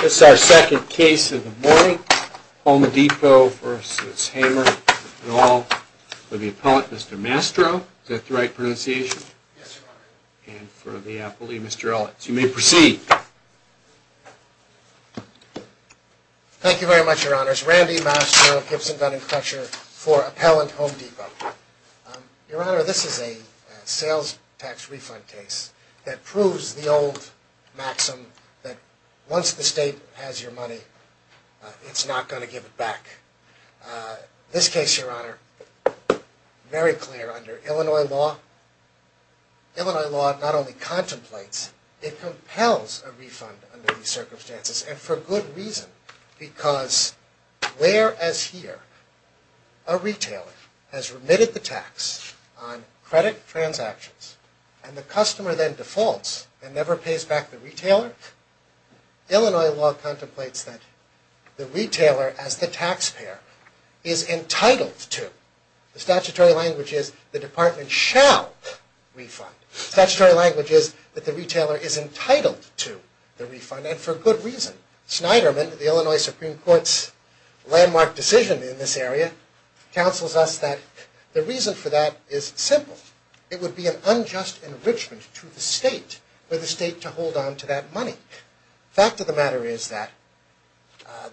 This is our second case of the morning, Home Depot v. Hamer, and all for the appellant, Mr. Mastro. Is that the right pronunciation? Yes, Your Honor. And for the appellee, Mr. Ellis. You may proceed. Thank you very much, Your Honors. Randy Mastro, Gibson, Dunn, and Crusher for appellant, Home Depot. Your Honor, this is a sales tax refund case that proves the old maxim that once the state has your money, it's not going to give it back. This case, Your Honor, very clear under Illinois law. Illinois law not only contemplates, it compels a refund under these circumstances, and for good reason. Because where as here, a retailer has remitted the tax on credit transactions, and the customer then defaults and never pays back the retailer, Illinois law contemplates that the retailer as the taxpayer is entitled to, the statutory language is, the department shall refund. Statutory language is that the retailer is entitled to the refund, and for good reason. Snyderman, the Illinois Supreme Court's landmark decision in this area, counsels us that the reason for that is simple. It would be an unjust enrichment to the state, for the state to hold on to that money. Fact of the matter is that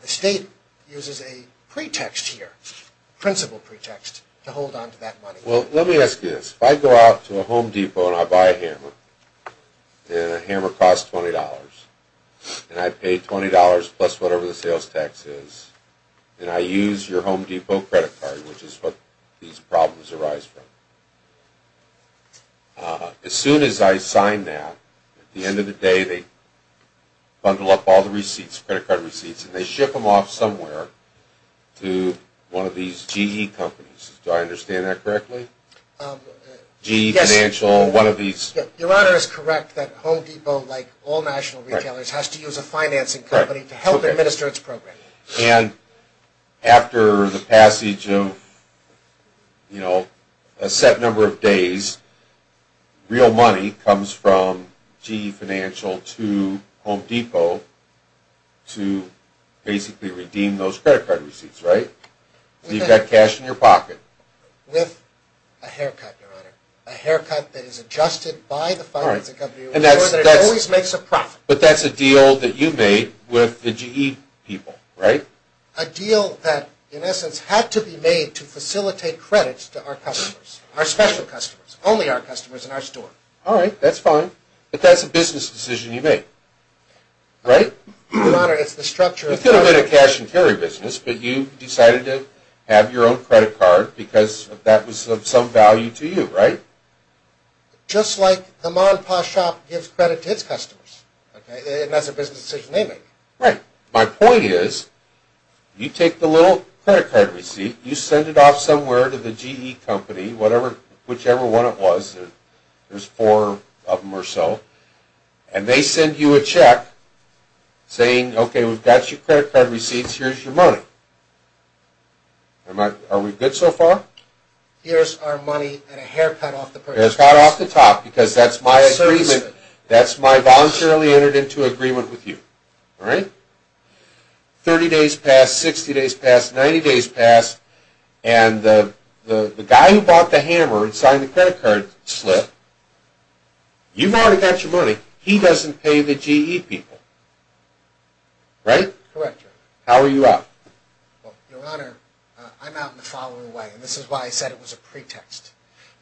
the state uses a pretext here, principal pretext, to hold on to that money. Well, let me ask you this. If I go out to a Home Depot and I buy a hammer, and a hammer costs $20, and I pay $20 plus whatever the sales tax is, and I use your Home Depot credit card, which is what these problems arise from, as soon as I sign that, at the end of the day, they bundle up all the receipts, credit card receipts, and they ship them off somewhere to one of these GE companies. Do I understand that correctly? GE Financial, one of these... Your Honor is correct that Home Depot, like all national retailers, has to use a financing company to help administer its program. And after the passage of, you know, a set number of days, real money comes from GE Financial to Home Depot to basically redeem those credit card receipts, right? You've got cash in your pocket. With a haircut, Your Honor. A haircut that is adjusted by the financing company... All right, and that's... ...so that it always makes a profit. But that's a deal that you made with the GE people, right? A deal that, in essence, had to be made to facilitate credits to our customers, our special customers, only our customers in our store. All right, that's fine. But that's a business decision you made, right? Your Honor, it's the structure of... It's going to be a cash and carry business, but you decided to have your own credit card because that was of some value to you, right? Just like the mom and pop shop gives credit to its customers, okay? And that's a business decision they make. Right. My point is, you take the little credit card receipt, you send it off somewhere to the GE company, whichever one it was, there's four of them or so, and they send you a check saying, okay, we've got your credit card receipts, here's your money. Are we good so far? No. Here's our money and a hair cut off the purse. Hair cut off the top because that's my agreement. That's my voluntarily entered into agreement with you, all right? Thirty days pass, 60 days pass, 90 days pass, and the guy who bought the hammer and signed the credit card slip, you've already got your money. He doesn't pay the GE people, right? Correct, Your Honor. How are you out? Well, Your Honor, I'm out in the following way, and this is why I said it was a pretext.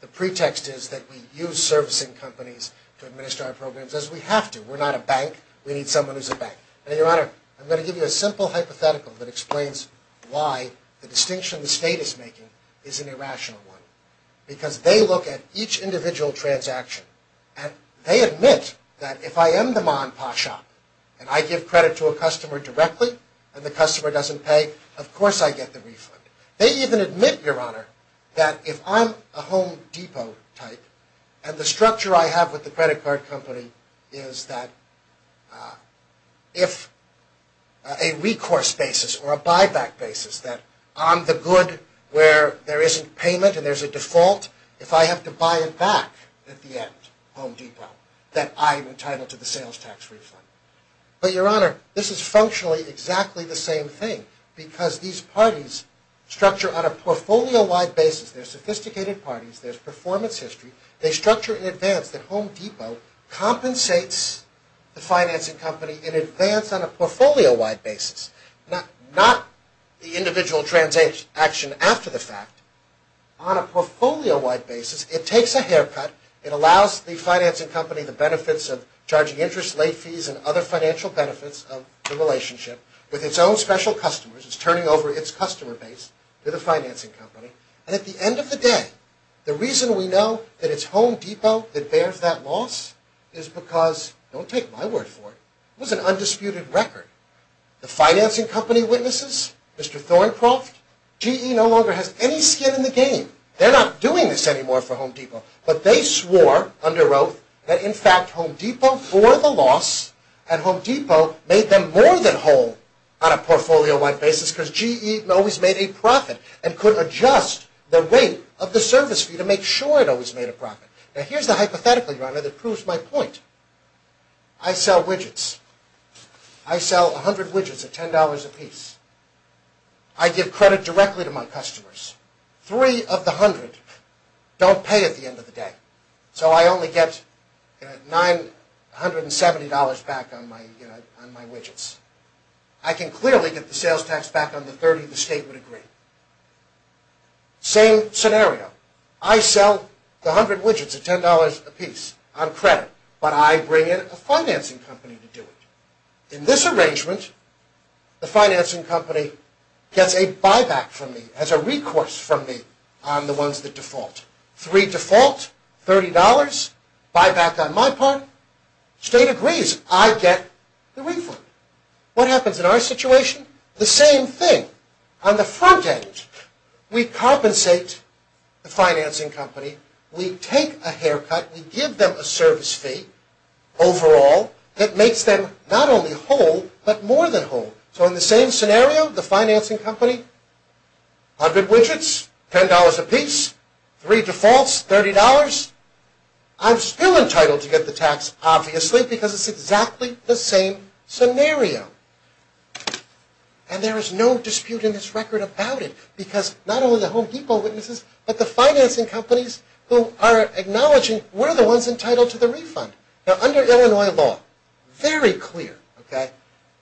The pretext is that we use servicing companies to administer our programs as we have to. We're not a bank. We need someone who's a bank. Now, Your Honor, I'm going to give you a simple hypothetical that explains why the distinction the state is making is an irrational one. Because they look at each individual transaction, and they admit that if I am the mom and pop shop, and I give credit to a customer directly, and the customer doesn't pay, of course I get the refund. They even admit, Your Honor, that if I'm a Home Depot type, and the structure I have with the credit card company is that if a recourse basis or a buyback basis, that I'm the good where there isn't payment and there's a default, if I have to buy it back at the end, Home Depot, that I'm entitled to the sales tax refund. But, Your Honor, this is functionally exactly the same thing, because these parties structure on a portfolio-wide basis. They're sophisticated parties. There's performance history. They structure in advance that Home Depot compensates the financing company in advance on a portfolio-wide basis, not the individual transaction after the fact. On a portfolio-wide basis, it takes a haircut. It allows the financing company the benefits of charging interest, late fees, and other financial benefits of the relationship with its own special customers. It's turning over its customer base to the financing company. And at the end of the day, the reason we know that it's Home Depot that bears that loss is because, don't take my word for it, it was an undisputed record. The financing company witnesses, Mr. Thorncroft, GE no longer has any skin in the game. They're not doing this anymore for Home Depot. But they swore under oath that, in fact, Home Depot bore the loss, and Home Depot made them more than whole on a portfolio-wide basis, because GE always made a profit and could adjust the rate of the service fee to make sure it always made a profit. Now, here's the hypothetical, Your Honor, that proves my point. I sell widgets. I sell 100 widgets at $10 apiece. I give credit directly to my customers. Three of the 100 don't pay at the end of the day. So I only get $970 back on my widgets. I can clearly get the sales tax back on the 30 the state would agree. Same scenario. I sell the 100 widgets at $10 apiece on credit, but I bring in a financing company to do it. In this arrangement, the financing company gets a buyback from me, has a recourse from me on the ones that default. Three default, $30, buyback on my part, state agrees. I get the refund. What happens in our situation? The same thing. On the front end, we compensate the financing company. We take a haircut. We give them a service fee overall that makes them not only whole, but more than whole. So in the same scenario, the financing company, 100 widgets, $10 apiece, three defaults, $30. I'm still entitled to get the tax, obviously, because it's exactly the same scenario. And there is no dispute in this record about it, because not only the Home Depot witnesses, but the financing companies who are acknowledging we're the ones entitled to the refund. Now, under Illinois law, very clear, okay,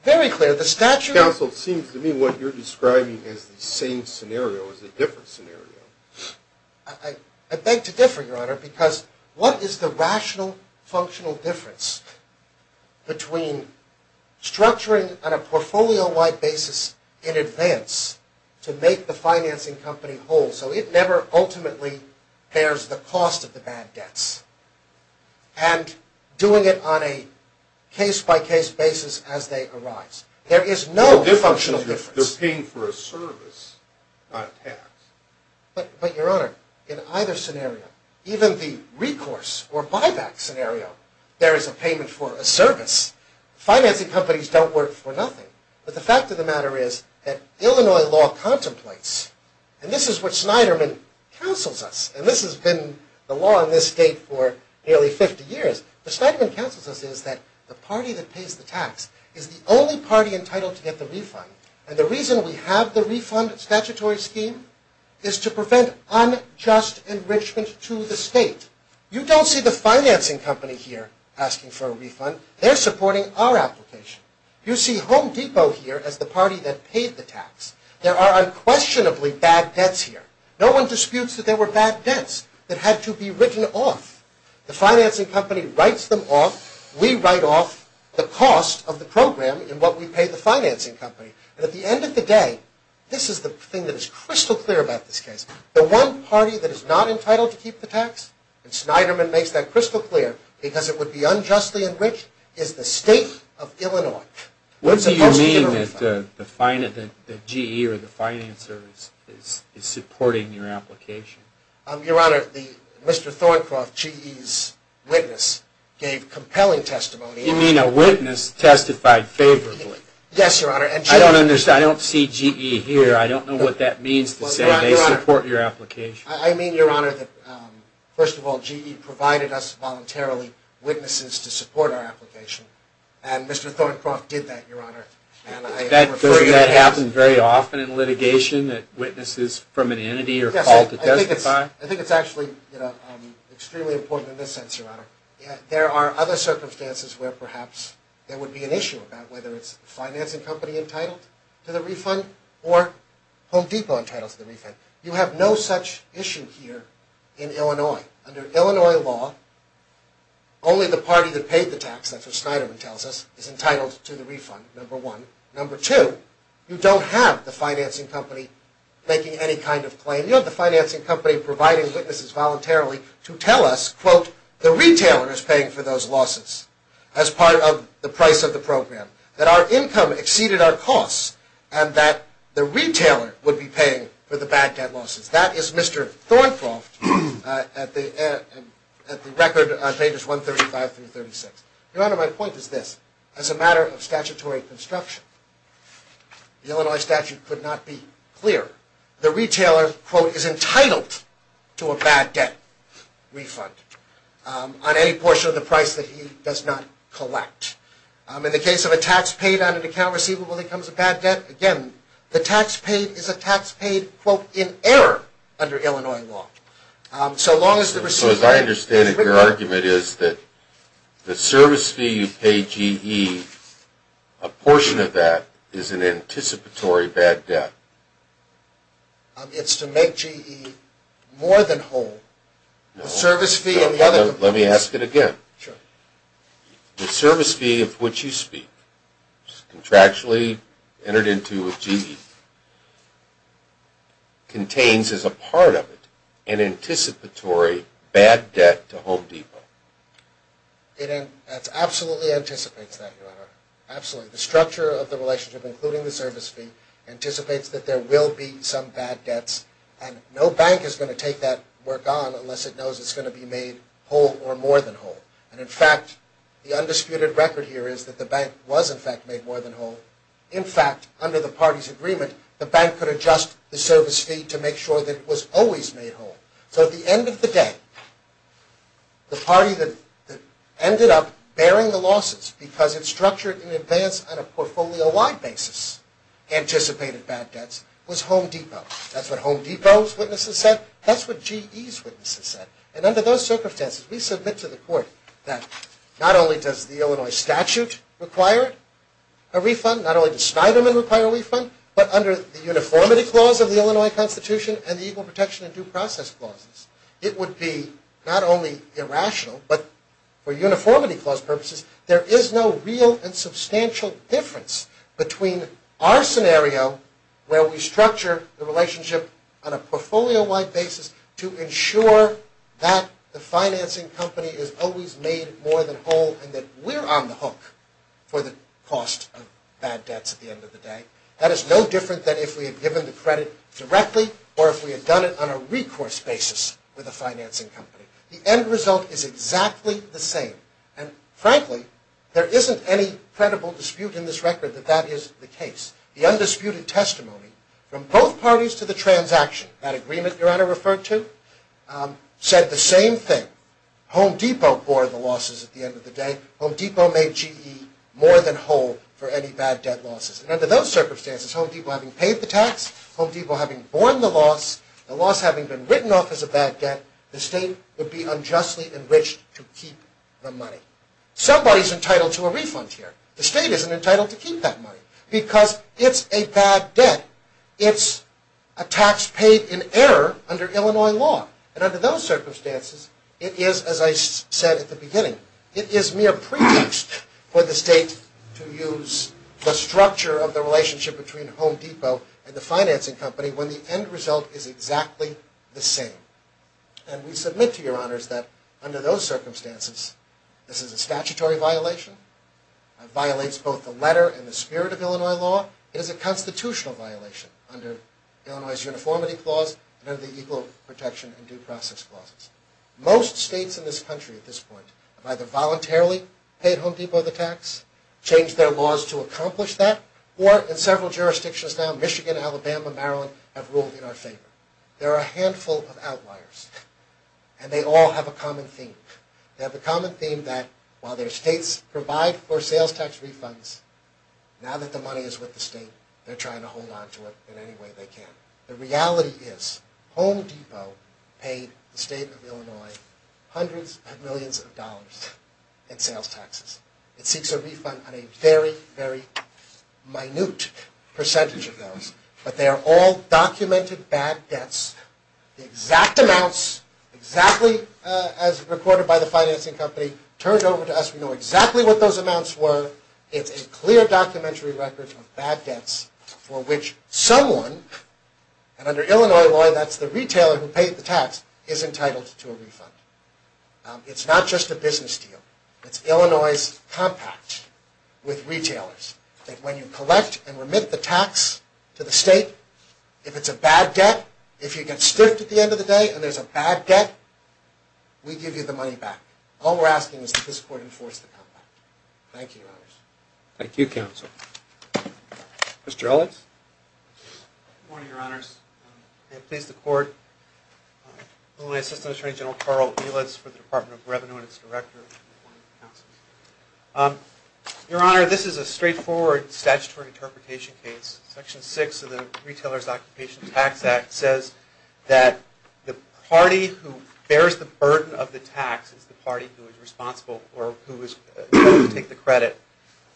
very clear. The statute also seems to me what you're describing as the same scenario is a different scenario. I beg to differ, Your Honor, because what is the rational, functional difference between structuring on a portfolio-wide basis in advance to make the financing company whole, so it never ultimately bears the cost of the bad debts, and doing it on a case-by-case basis as they arise? There is no functional difference. The difference is they're paying for a service, not a tax. But, Your Honor, in either scenario, even the recourse or buyback scenario, there is a payment for a service. Financing companies don't work for nothing. But the fact of the matter is that Illinois law contemplates, and this is what Snyderman counsels us, and this has been the law in this state for nearly 50 years. What Snyderman counsels us is that the party that pays the tax is the only party entitled to get the refund. And the reason we have the refund statutory scheme is to prevent unjust enrichment to the state. You don't see the financing company here asking for a refund. They're supporting our application. You see Home Depot here as the party that paid the tax. There are unquestionably bad debts here. No one disputes that there were bad debts that had to be written off. The financing company writes them off. We write off the cost of the program in what we pay the financing company. And at the end of the day, this is the thing that is crystal clear about this case. The one party that is not entitled to keep the tax, and Snyderman makes that crystal clear because it would be unjustly enriched, is the state of Illinois. What do you mean that the GE or the financer is supporting your application? Your Honor, Mr. Thorncroft, GE's witness, gave compelling testimony. You mean a witness testified favorably? Yes, Your Honor. I don't see GE here. I don't know what that means to say they support your application. I mean, Your Honor, that first of all, GE provided us voluntarily witnesses to support our application. And Mr. Thorncroft did that, Your Honor. Doesn't that happen very often in litigation that witnesses from an entity are called to testify? I think it's actually extremely important in this sense, Your Honor. There are other circumstances where perhaps there would be an issue about whether it's the financing company entitled to the refund or Home Depot entitled to the refund. You have no such issue here in Illinois. Under Illinois law, only the party that paid the tax, that's what Snyderman tells us, is entitled to the refund, number one. Number two, you don't have the financing company making any kind of claim. You don't have the financing company providing witnesses voluntarily to tell us, quote, the retailer is paying for those losses as part of the price of the program, that our income exceeded our costs, and that the retailer would be paying for the bad debt losses. That is Mr. Thorncroft at the record on pages 135 through 36. Your Honor, my point is this. As a matter of statutory construction, the Illinois statute could not be clearer. The retailer, quote, is entitled to a bad debt refund on any portion of the price that he does not collect. In the case of a tax paid on an account receivable that becomes a bad debt, again, the tax paid is a tax paid, quote, in error under Illinois law. So long as the receiver... It's to make GE more than whole. The service fee and the other... Let me ask it again. Sure. The service fee of which you speak, contractually entered into with GE, contains as a part of it an anticipatory bad debt to Home Depot. It absolutely anticipates that, Your Honor. Absolutely. The structure of the relationship, including the service fee, anticipates that there will be some bad debts, and no bank is going to take that work on unless it knows it's going to be made whole or more than whole. And, in fact, the undisputed record here is that the bank was, in fact, made more than whole. In fact, under the party's agreement, the bank could adjust the service fee to make sure that it was always made whole. So at the end of the day, the party that ended up bearing the losses because it structured in advance on a portfolio-wide basis anticipated bad debts was Home Depot. That's what Home Depot's witnesses said. That's what GE's witnesses said. And under those circumstances, we submit to the court that not only does the Illinois statute require a refund, not only does Schneiderman require a refund, but under the Uniformity Clause of the Illinois Constitution and the Equal Protection and Due Process Clauses, it would be not only irrational, but for Uniformity Clause purposes, there is no real and substantial difference between our scenario where we structure the relationship on a portfolio-wide basis to ensure that the financing company is always made more than whole and that we're on the hook for the cost of bad debts at the end of the day. That is no different than if we had given the credit directly or if we had done it on a recourse basis with a financing company. The end result is exactly the same. And frankly, there isn't any credible dispute in this record that that is the case. The undisputed testimony from both parties to the transaction, that agreement Your Honor referred to, said the same thing. Home Depot bore the losses at the end of the day. Home Depot made GE more than whole for any bad debt losses. And under those circumstances, Home Depot having paid the tax, Home Depot having borne the loss, the loss having been written off as a bad debt, the state would be unjustly enriched to keep the money. Somebody's entitled to a refund here. The state isn't entitled to keep that money because it's a bad debt. It's a tax paid in error under Illinois law. And under those circumstances, it is, as I said at the beginning, it is mere pretext for the state to use the structure of the relationship between Home Depot and the financing company when the end result is exactly the same. And we submit to Your Honors that under those circumstances, this is a statutory violation. It violates both the letter and the spirit of Illinois law. It is a constitutional violation under Illinois' Uniformity Clause and under the Equal Protection and Due Process Clauses. Most states in this country at this point have either voluntarily paid Home Depot the tax, changed their laws to accomplish that, or in several jurisdictions now, Michigan, Alabama, Maryland, have ruled in our favor. There are a handful of outliers, and they all have a common theme. They have a common theme that while their states provide for sales tax refunds, now that the money is with the state, they're trying to hold on to it in any way they can. The reality is Home Depot paid the state of Illinois hundreds of millions of dollars in sales taxes. It seeks a refund on a very, very minute percentage of those, but they are all documented bad debts. The exact amounts, exactly as recorded by the financing company, turned over to us. We know exactly what those amounts were. It's a clear documentary record of bad debts for which someone, and under Illinois law that's the retailer who paid the tax, is entitled to a refund. It's not just a business deal. It's Illinois' compact with retailers that when you collect and remit the tax to the state, if it's a bad debt, if you get stiffed at the end of the day and there's a bad debt, we give you the money back. All we're asking is that this court enforce the compact. Thank you, Your Honors. Thank you, Counsel. Mr. Ellis? Good morning, Your Honors. May it please the Court, Illinois Assistant Attorney General Carl Elitz for the Department of Revenue and its Director. Your Honor, this is a straightforward statutory interpretation case. Section 6 of the Retailer's Occupation Tax Act says that the party who bears the burden of the tax is the party who is responsible or who is going to take the credit.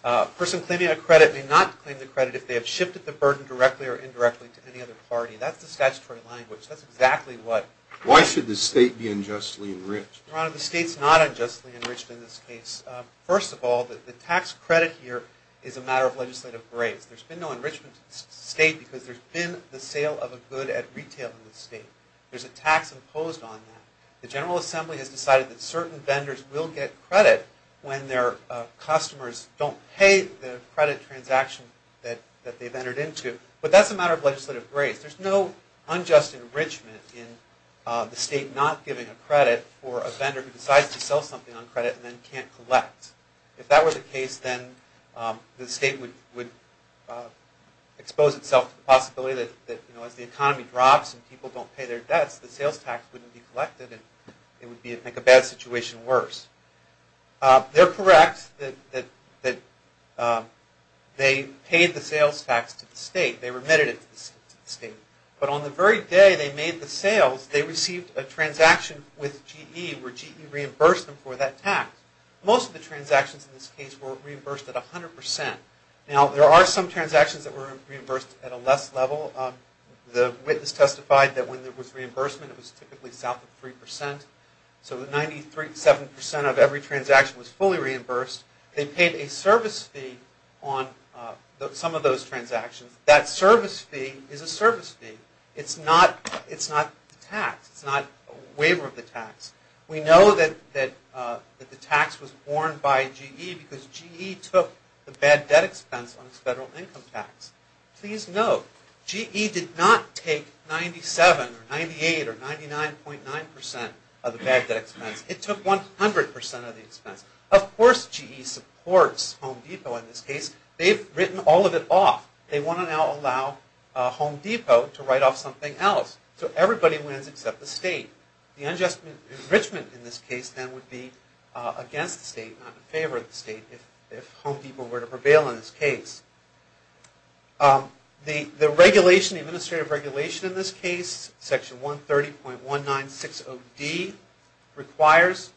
A person claiming a credit may not claim the credit if they have shifted the burden directly or indirectly to any other party. That's the statutory language. That's exactly what... Why should the state be unjustly enriched? Your Honor, the state's not unjustly enriched in this case. First of all, the tax credit here is a matter of legislative grace. There's been no enrichment to the state because there's been the sale of a good at retail in the state. There's a tax imposed on that. The General Assembly has decided that certain vendors will get credit when their customers don't pay the credit transaction that they've entered into. But that's a matter of legislative grace. There's no unjust enrichment in the state not giving a credit for a vendor who decides to sell something on credit and then can't collect. If that were the case, then the state would expose itself to the possibility that, you know, as the economy drops and people don't pay their debts, the sales tax wouldn't be collected and it would make a bad situation worse. They're correct that they paid the sales tax to the state. They remitted it to the state. But on the very day they made the sales, they received a transaction with GE where GE reimbursed them for that tax. Most of the transactions in this case were reimbursed at 100%. Now, there are some transactions that were reimbursed at a less level. The witness testified that when there was reimbursement, it was typically south of 3%. So 97% of every transaction was fully reimbursed. They paid a service fee on some of those transactions. That service fee is a service fee. It's not the tax. It's not a waiver of the tax. We know that the tax was borne by GE because GE took the bad debt expense on its federal income tax. Please note, GE did not take 97% or 98% or 99.9% of the bad debt expense. It took 100% of the expense. Of course, GE supports Home Depot in this case. They've written all of it off. They want to now allow Home Depot to write off something else. So everybody wins except the state. The unjust enrichment in this case then would be against the state, not in favor of the state, if Home Depot were to prevail in this case. The administrative regulation in this case, Section 130.1960D, requires,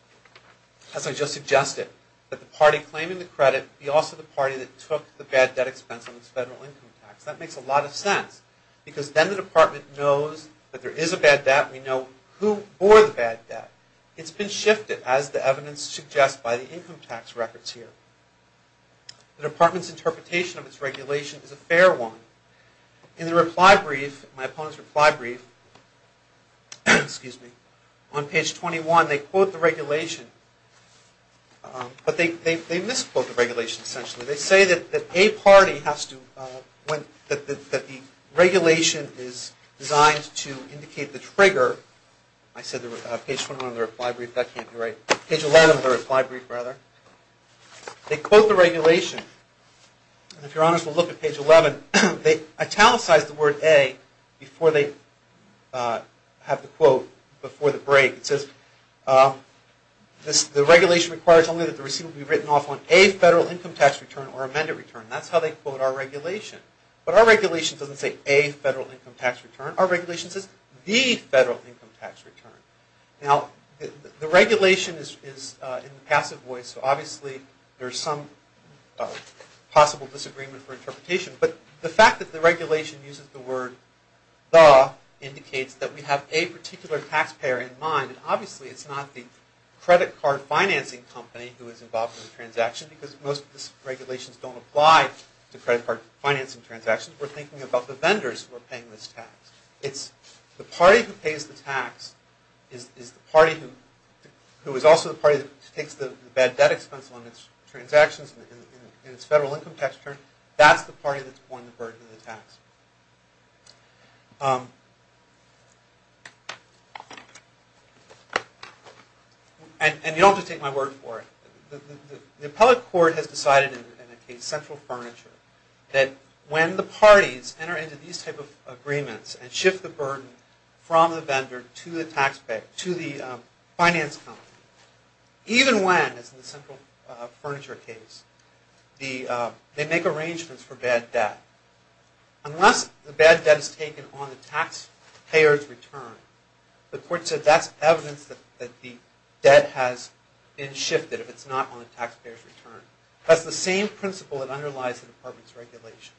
as I just suggested, that the party claiming the credit be also the party that took the bad debt expense on its federal income tax. That makes a lot of sense because then the department knows that there is a bad debt. We know who bore the bad debt. It's been shifted, as the evidence suggests, by the income tax records here. The department's interpretation of its regulation is a fair one. In the reply brief, my opponent's reply brief, on page 21, they quote the regulation, but they misquote the regulation essentially. They say that a party has to, that the regulation is designed to indicate the trigger. I said page 21 of the reply brief. That can't be right. Page 11 of the reply brief, rather. They quote the regulation. And if you're honest, we'll look at page 11. They italicize the word a before they have the quote, before the break. It says, the regulation requires only that the receipt be written off on a federal income tax return or amended return. That's how they quote our regulation. But our regulation doesn't say a federal income tax return. Our regulation says, the federal income tax return. Now, the regulation is in the passive voice, so obviously there's some possible disagreement for interpretation. But the fact that the regulation uses the word, the, indicates that we have a particular taxpayer in mind. And obviously it's not the credit card financing company who is involved in the transaction, because most of these regulations don't apply to credit card financing transactions. We're thinking about the vendors who are paying this tax. It's the party who pays the tax, is the party who is also the party that takes the bad debt expense on its transactions and its federal income tax return. That's the party that's borne the burden of the tax. And you don't have to take my word for it. The appellate court has decided in a case, Central Furniture, that when the parties enter into these type of agreements and shift the burden from the vendor to the finance company, even when, as in the Central Furniture case, they make arrangements for bad debt, unless the bad debt is taken on the taxpayer's return, the court said that's evidence that the debt has been shifted, if it's not on the taxpayer's return. That's the same principle that underlies the department's regulation.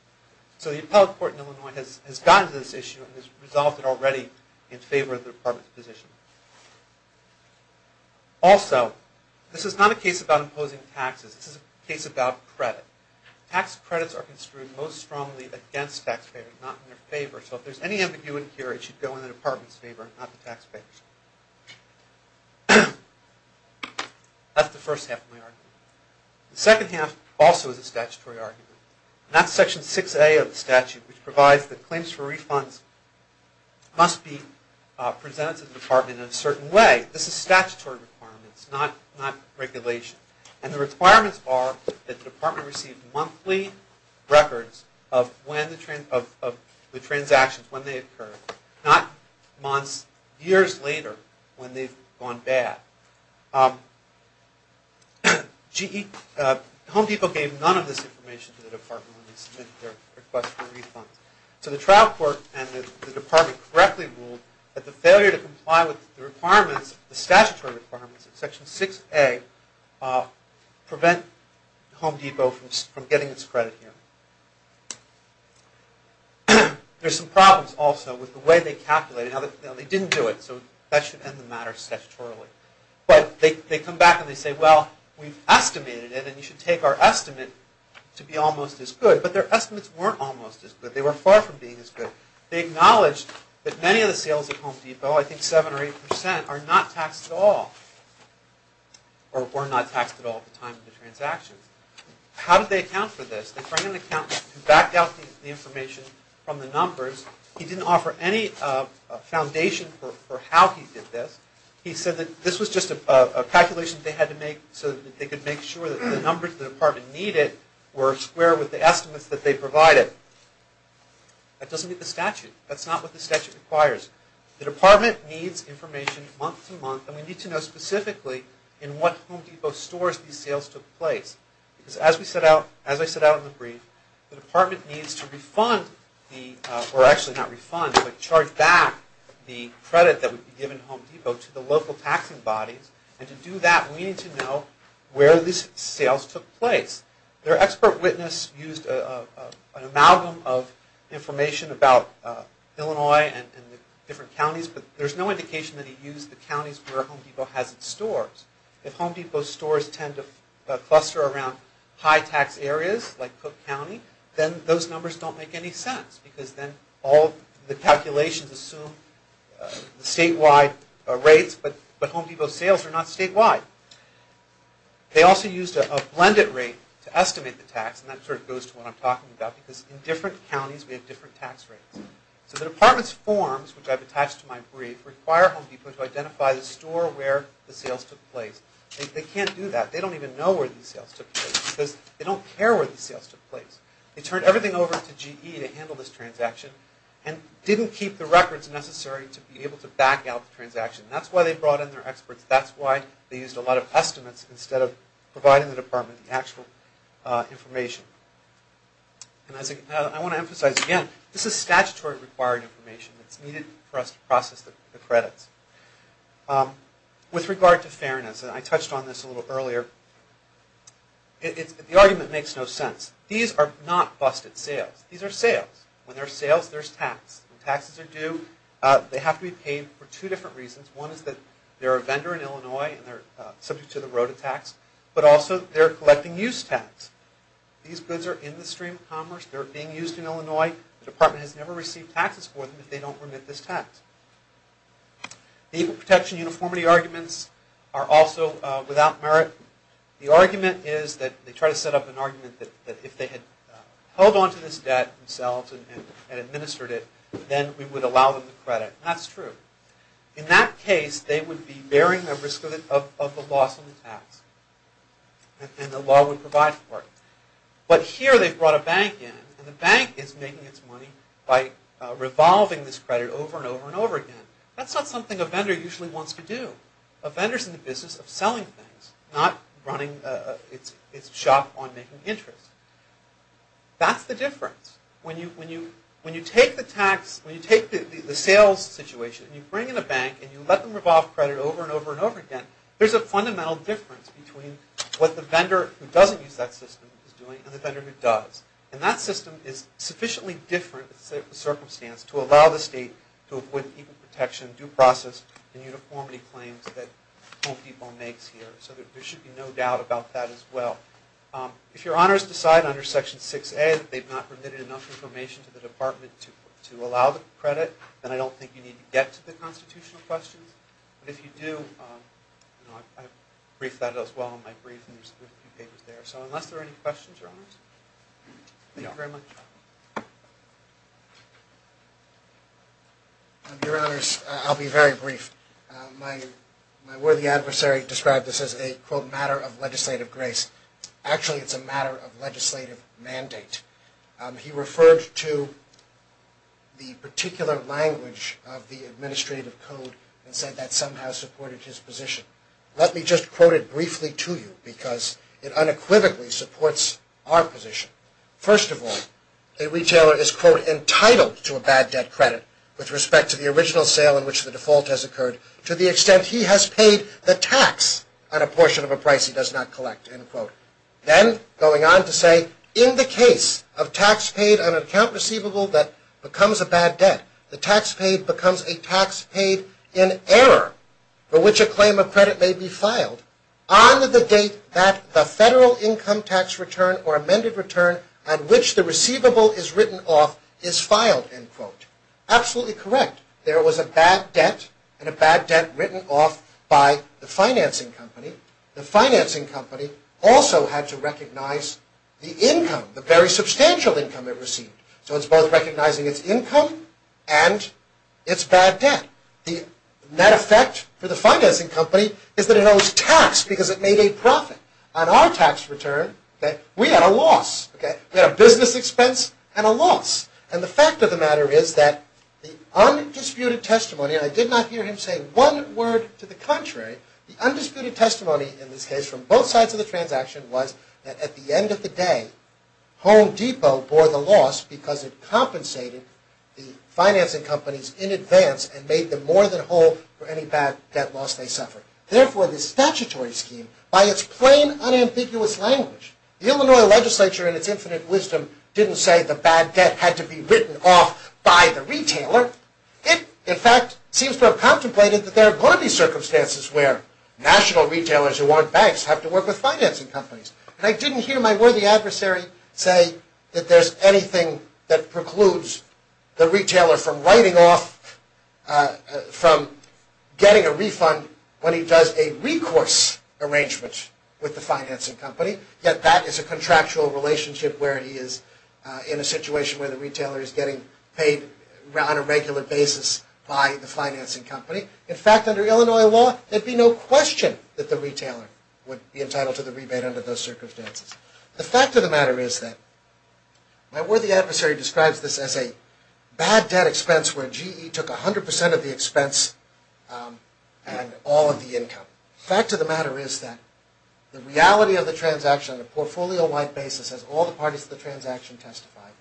So the appellate court in Illinois has gotten to this issue and has resolved it already in favor of the department's position. Also, this is not a case about imposing taxes. This is a case about credit. Tax credits are construed most strongly against taxpayers, not in their favor. So if there's any ambiguity here, it should go in the department's favor, not the taxpayer's. That's the first half of my argument. The second half also is a statutory argument. And that's Section 6A of the statute, which provides that claims for refunds must be presented to the department in a certain way. This is statutory requirements, not regulation. And the requirements are that the department receive monthly records of the transactions, when they occur, not months, years later, when they've gone bad. Home Depot gave none of this information to the department when they submitted their request for refunds. So the trial court and the department correctly ruled that the failure to comply with the statutory requirements of Section 6A prevent Home Depot from getting its credit here. There's some problems also with the way they calculated. They didn't do it, so that should end the matter statutorily. But they come back and they say, well, we've estimated it, and you should take our estimate to be almost as good. But their estimates weren't almost as good. They were far from being as good. They acknowledged that many of the sales at Home Depot, I think 7 or 8 percent, are not taxed at all, or were not taxed at all at the time of the transactions. How did they account for this? They brought in an accountant who backed out the information from the numbers. He didn't offer any foundation for how he did this. He said that this was just a calculation they had to make so that they could make sure that the numbers the department needed were square with the estimates that they provided. That doesn't meet the statute. That's not what the statute requires. The department needs information month to month, and we need to know specifically in what Home Depot stores these sales took place. Because as I set out in the brief, the department needs to refund, or actually not refund, but charge back the credit that would be given to Home Depot to the local taxing bodies. And to do that, we need to know where these sales took place. Their expert witness used an amalgam of information about Illinois and the different counties, but there's no indication that he used the counties where Home Depot has its stores. If Home Depot stores tend to cluster around high tax areas like Cook County, then those numbers don't make any sense because then all the calculations assume statewide rates, but Home Depot sales are not statewide. They also used a blended rate to estimate the tax, and that sort of goes to what I'm talking about because in different counties we have different tax rates. So the department's forms, which I've attached to my brief, require Home Depot to identify the store where the sales took place. They can't do that. They don't even know where the sales took place because they don't care where the sales took place. They turned everything over to GE to handle this transaction and didn't keep the records necessary to be able to back out the transaction. That's why they brought in their experts. That's why they used a lot of estimates instead of providing the department the actual information. And I want to emphasize again, this is statutory required information that's needed for us to process the credits. With regard to fairness, and I touched on this a little earlier, the argument makes no sense. These are not busted sales. These are sales. When there's sales, there's tax. When taxes are due, they have to be paid for two different reasons. One is that they're a vendor in Illinois and they're subject to the Rota tax, but also they're collecting use tax. These goods are in the stream of commerce. They're being used in Illinois. The department has never received taxes for them if they don't remit this tax. The equal protection uniformity arguments are also without merit. The argument is that they try to set up an argument that if they had held onto this debt themselves and administered it, then we would allow them the credit. That's true. In that case, they would be bearing the risk of the loss on the tax and the law would provide for it. But here they've brought a bank in and the bank is making its money by revolving this credit over and over and over again. That's not something a vendor usually wants to do. A vendor's in the business of selling things, not running its shop on making interest. That's the difference. When you take the sales situation and you bring in a bank and you let them revolve credit over and over and over again, there's a fundamental difference between what the vendor who doesn't use that system is doing and the vendor who does. And that system is sufficiently different circumstance to allow the state to avoid equal protection, due process, and uniformity claims that Home Depot makes here. So there should be no doubt about that as well. If your honors decide under Section 6A that they've not permitted enough information to the department to allow the credit, then I don't think you need to get to the constitutional questions. But if you do, I briefed that as well in my brief and there's a few papers there. So unless there are any questions, your honors. Thank you very much. Your honors, I'll be very brief. My worthy adversary described this as a, quote, matter of legislative grace. Actually, it's a matter of legislative mandate. He referred to the particular language of the administrative code and said that somehow supported his position. Let me just quote it briefly to you because it unequivocally supports our position. First of all, a retailer is, quote, entitled to a bad debt credit with respect to the original sale in which the default has occurred to the extent he has paid the tax on a portion of a price he does not collect, end quote. Then, going on to say, in the case of tax paid on an account receivable that becomes a bad debt, the tax paid becomes a tax paid in error for which a claim of credit may be filed on the date that the federal income tax return or amended return at which the receivable is written off is filed, end quote. Absolutely correct. There was a bad debt, and a bad debt written off by the financing company. The financing company also had to recognize the income, the very substantial income it received. So it's both recognizing its income and its bad debt. The net effect for the financing company is that it owes tax because it made a profit. On our tax return, we had a loss. We had a business expense and a loss. And the fact of the matter is that the undisputed testimony, and I did not hear him say one word to the contrary, the undisputed testimony in this case from both sides of the transaction was that at the end of the day, Home Depot bore the loss because it compensated the financing companies in advance and made them more than whole for any bad debt loss they suffered. Therefore, the statutory scheme, by its plain, unambiguous language, the Illinois legislature in its infinite wisdom didn't say the bad debt had to be written off by the retailer. It, in fact, seems to have contemplated that there are going to be circumstances where national retailers who aren't banks have to work with financing companies. And I didn't hear my worthy adversary say that there's anything that precludes the retailer from getting a refund when he does a recourse arrangement with the financing company. Yet that is a contractual relationship where he is in a situation where the retailer is getting paid on a regular basis by the financing company. In fact, under Illinois law, there'd be no question that the retailer would be entitled to the rebate under those circumstances. The fact of the matter is that my worthy adversary describes this as a bad debt expense where GE took 100% of the expense and all of the income. Fact of the matter is that the reality of the transaction on a portfolio-wide basis, as all the parties of the transaction testified,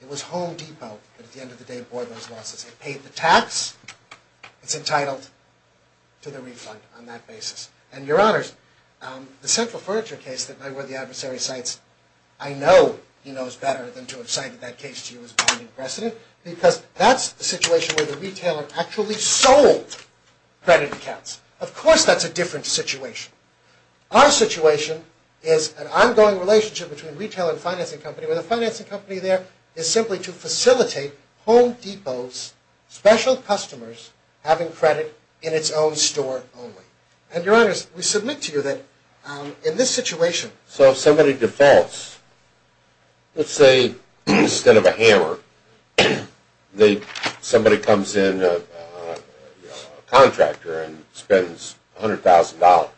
it was Home Depot that, at the end of the day, bore those losses. It paid the tax. It's entitled to the refund on that basis. And, Your Honors, the central furniture case that my worthy adversary cites, I know he knows better than to have cited that case to you as binding precedent because that's the situation where the retailer actually sold credit accounts. Of course that's a different situation. Our situation is an ongoing relationship between retail and financing company where the financing company there is simply to facilitate Home Depot's special customers having credit in its own store only. And, Your Honors, we submit to you that in this situation... Let's say instead of a hammer, somebody comes in a contractor and spends $100,000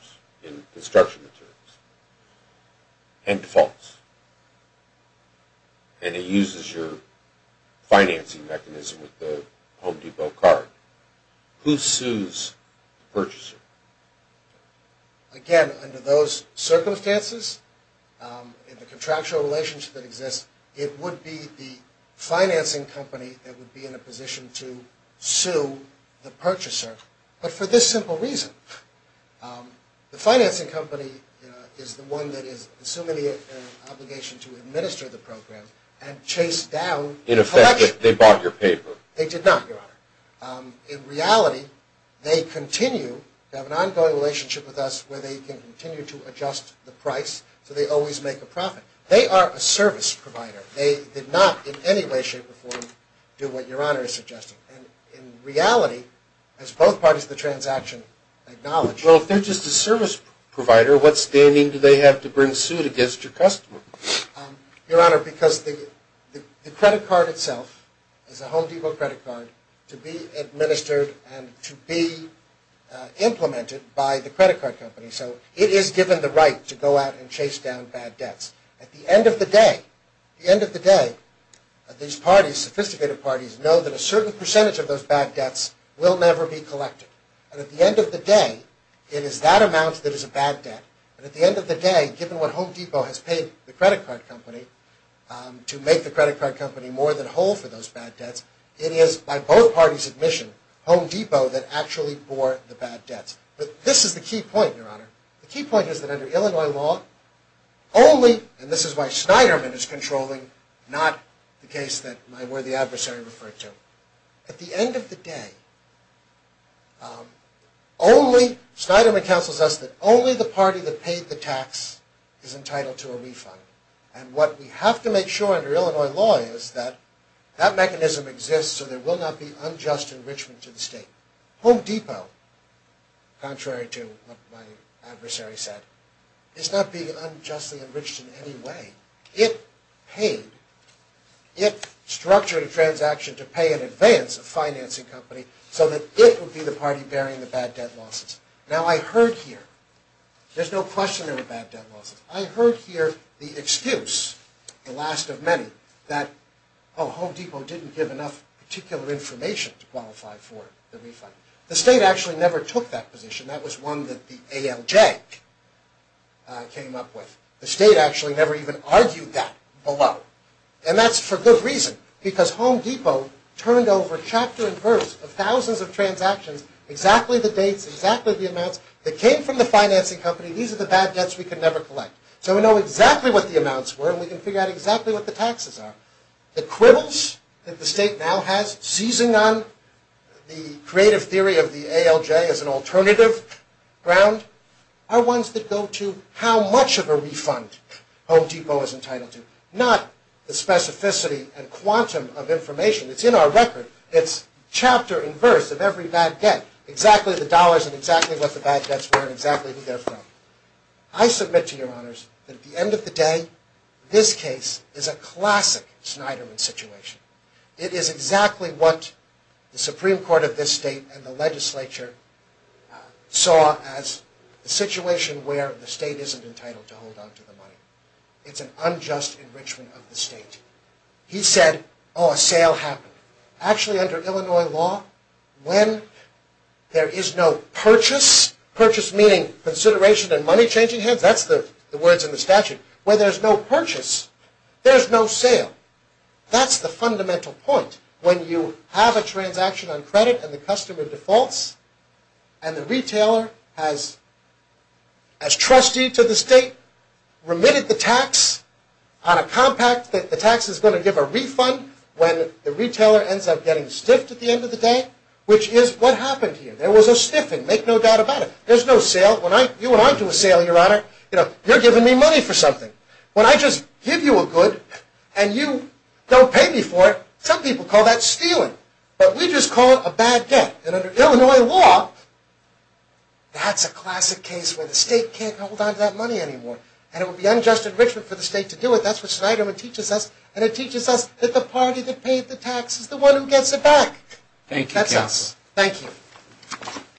in construction materials and defaults. And it uses your financing mechanism with the Home Depot card. Who sues the purchaser? Again, under those circumstances, in the contractual relationship that exists, it would be the financing company that would be in a position to sue the purchaser. But for this simple reason, the financing company is the one that is assuming the obligation to administer the program and chase down... In effect, they bought your paper. They did not, Your Honor. In reality, they continue to have an ongoing relationship with us where they can continue to adjust the price so they always make a profit. They are a service provider. They did not in any way, shape, or form do what Your Honor is suggesting. In reality, as both parties of the transaction acknowledge... Well, if they're just a service provider, what standing do they have to bring suit against your customer? Your Honor, because the credit card itself is a Home Depot credit card to be administered and to be implemented by the credit card company, so it is given the right to go out and chase down bad debts. At the end of the day, these parties, sophisticated parties, know that a certain percentage of those bad debts will never be collected. And at the end of the day, it is that amount that is a bad debt. And at the end of the day, given what Home Depot has paid the credit card company to make the credit card company more than whole for those bad debts, it is by both parties' admission, Home Depot that actually bore the bad debts. But this is the key point, Your Honor. The key point is that under Illinois law, only... And this is why Snyderman is controlling, not the case that my worthy adversary referred to. At the end of the day, only... Snyderman counsels us that only the party that paid the tax is entitled to a refund. And what we have to make sure under Illinois law is that that mechanism exists so there will not be unjust enrichment to the state. Home Depot, contrary to what my adversary said, is not being unjustly enriched in any way. It paid. It structured a transaction to pay in advance a financing company so that it would be the party bearing the bad debt losses. Now I heard here, there's no question there were bad debt losses. I heard here the excuse, the last of many, that Oh, Home Depot didn't give enough particular information to qualify for the refund. The state actually never took that position. That was one that the ALJ came up with. The state actually never even argued that below. And that's for good reason, because Home Depot turned over chapter and verse of thousands of transactions, exactly the dates, exactly the amounts, that came from the financing company. These are the bad debts we can never collect. So we know exactly what the amounts were, and we can figure out exactly what the taxes are. The quibbles that the state now has, seizing on the creative theory of the ALJ as an alternative ground, are ones that go to how much of a refund Home Depot is entitled to. Not the specificity and quantum of information. It's in our record. It's chapter and verse of every bad debt. Exactly the dollars, and exactly what the bad debts were, and exactly who they're from. I submit to your honors that at the end of the day, this case is a classic Snyderman situation. It is exactly what the Supreme Court of this state and the legislature saw as a situation where the state isn't entitled to hold on to the money. It's an unjust enrichment of the state. He said, oh, a sale happened. Actually, under Illinois law, when there is no purchase, purchase meaning consideration and money changing hands. That's the words in the statute. When there's no purchase, there's no sale. That's the fundamental point. When you have a transaction on credit and the customer defaults, and the retailer has as trustee to the state, remitted the tax on a compact that the tax is going to give a refund when the retailer ends up getting stiffed at the end of the day, which is what happened here. There was a stiffing. Make no doubt about it. There's no sale. When you and I do a sale, Your Honor, you're giving me money for something. When I just give you a good and you don't pay me for it, some people call that stealing. But we just call it a bad debt. And under Illinois law, that's a classic case where the state can't hold on to that money anymore. And it would be unjust enrichment for the state to do it. That's what Snyderman teaches us. And it teaches us that the party that paid the tax is the one who gets it back. That's us. Thank you.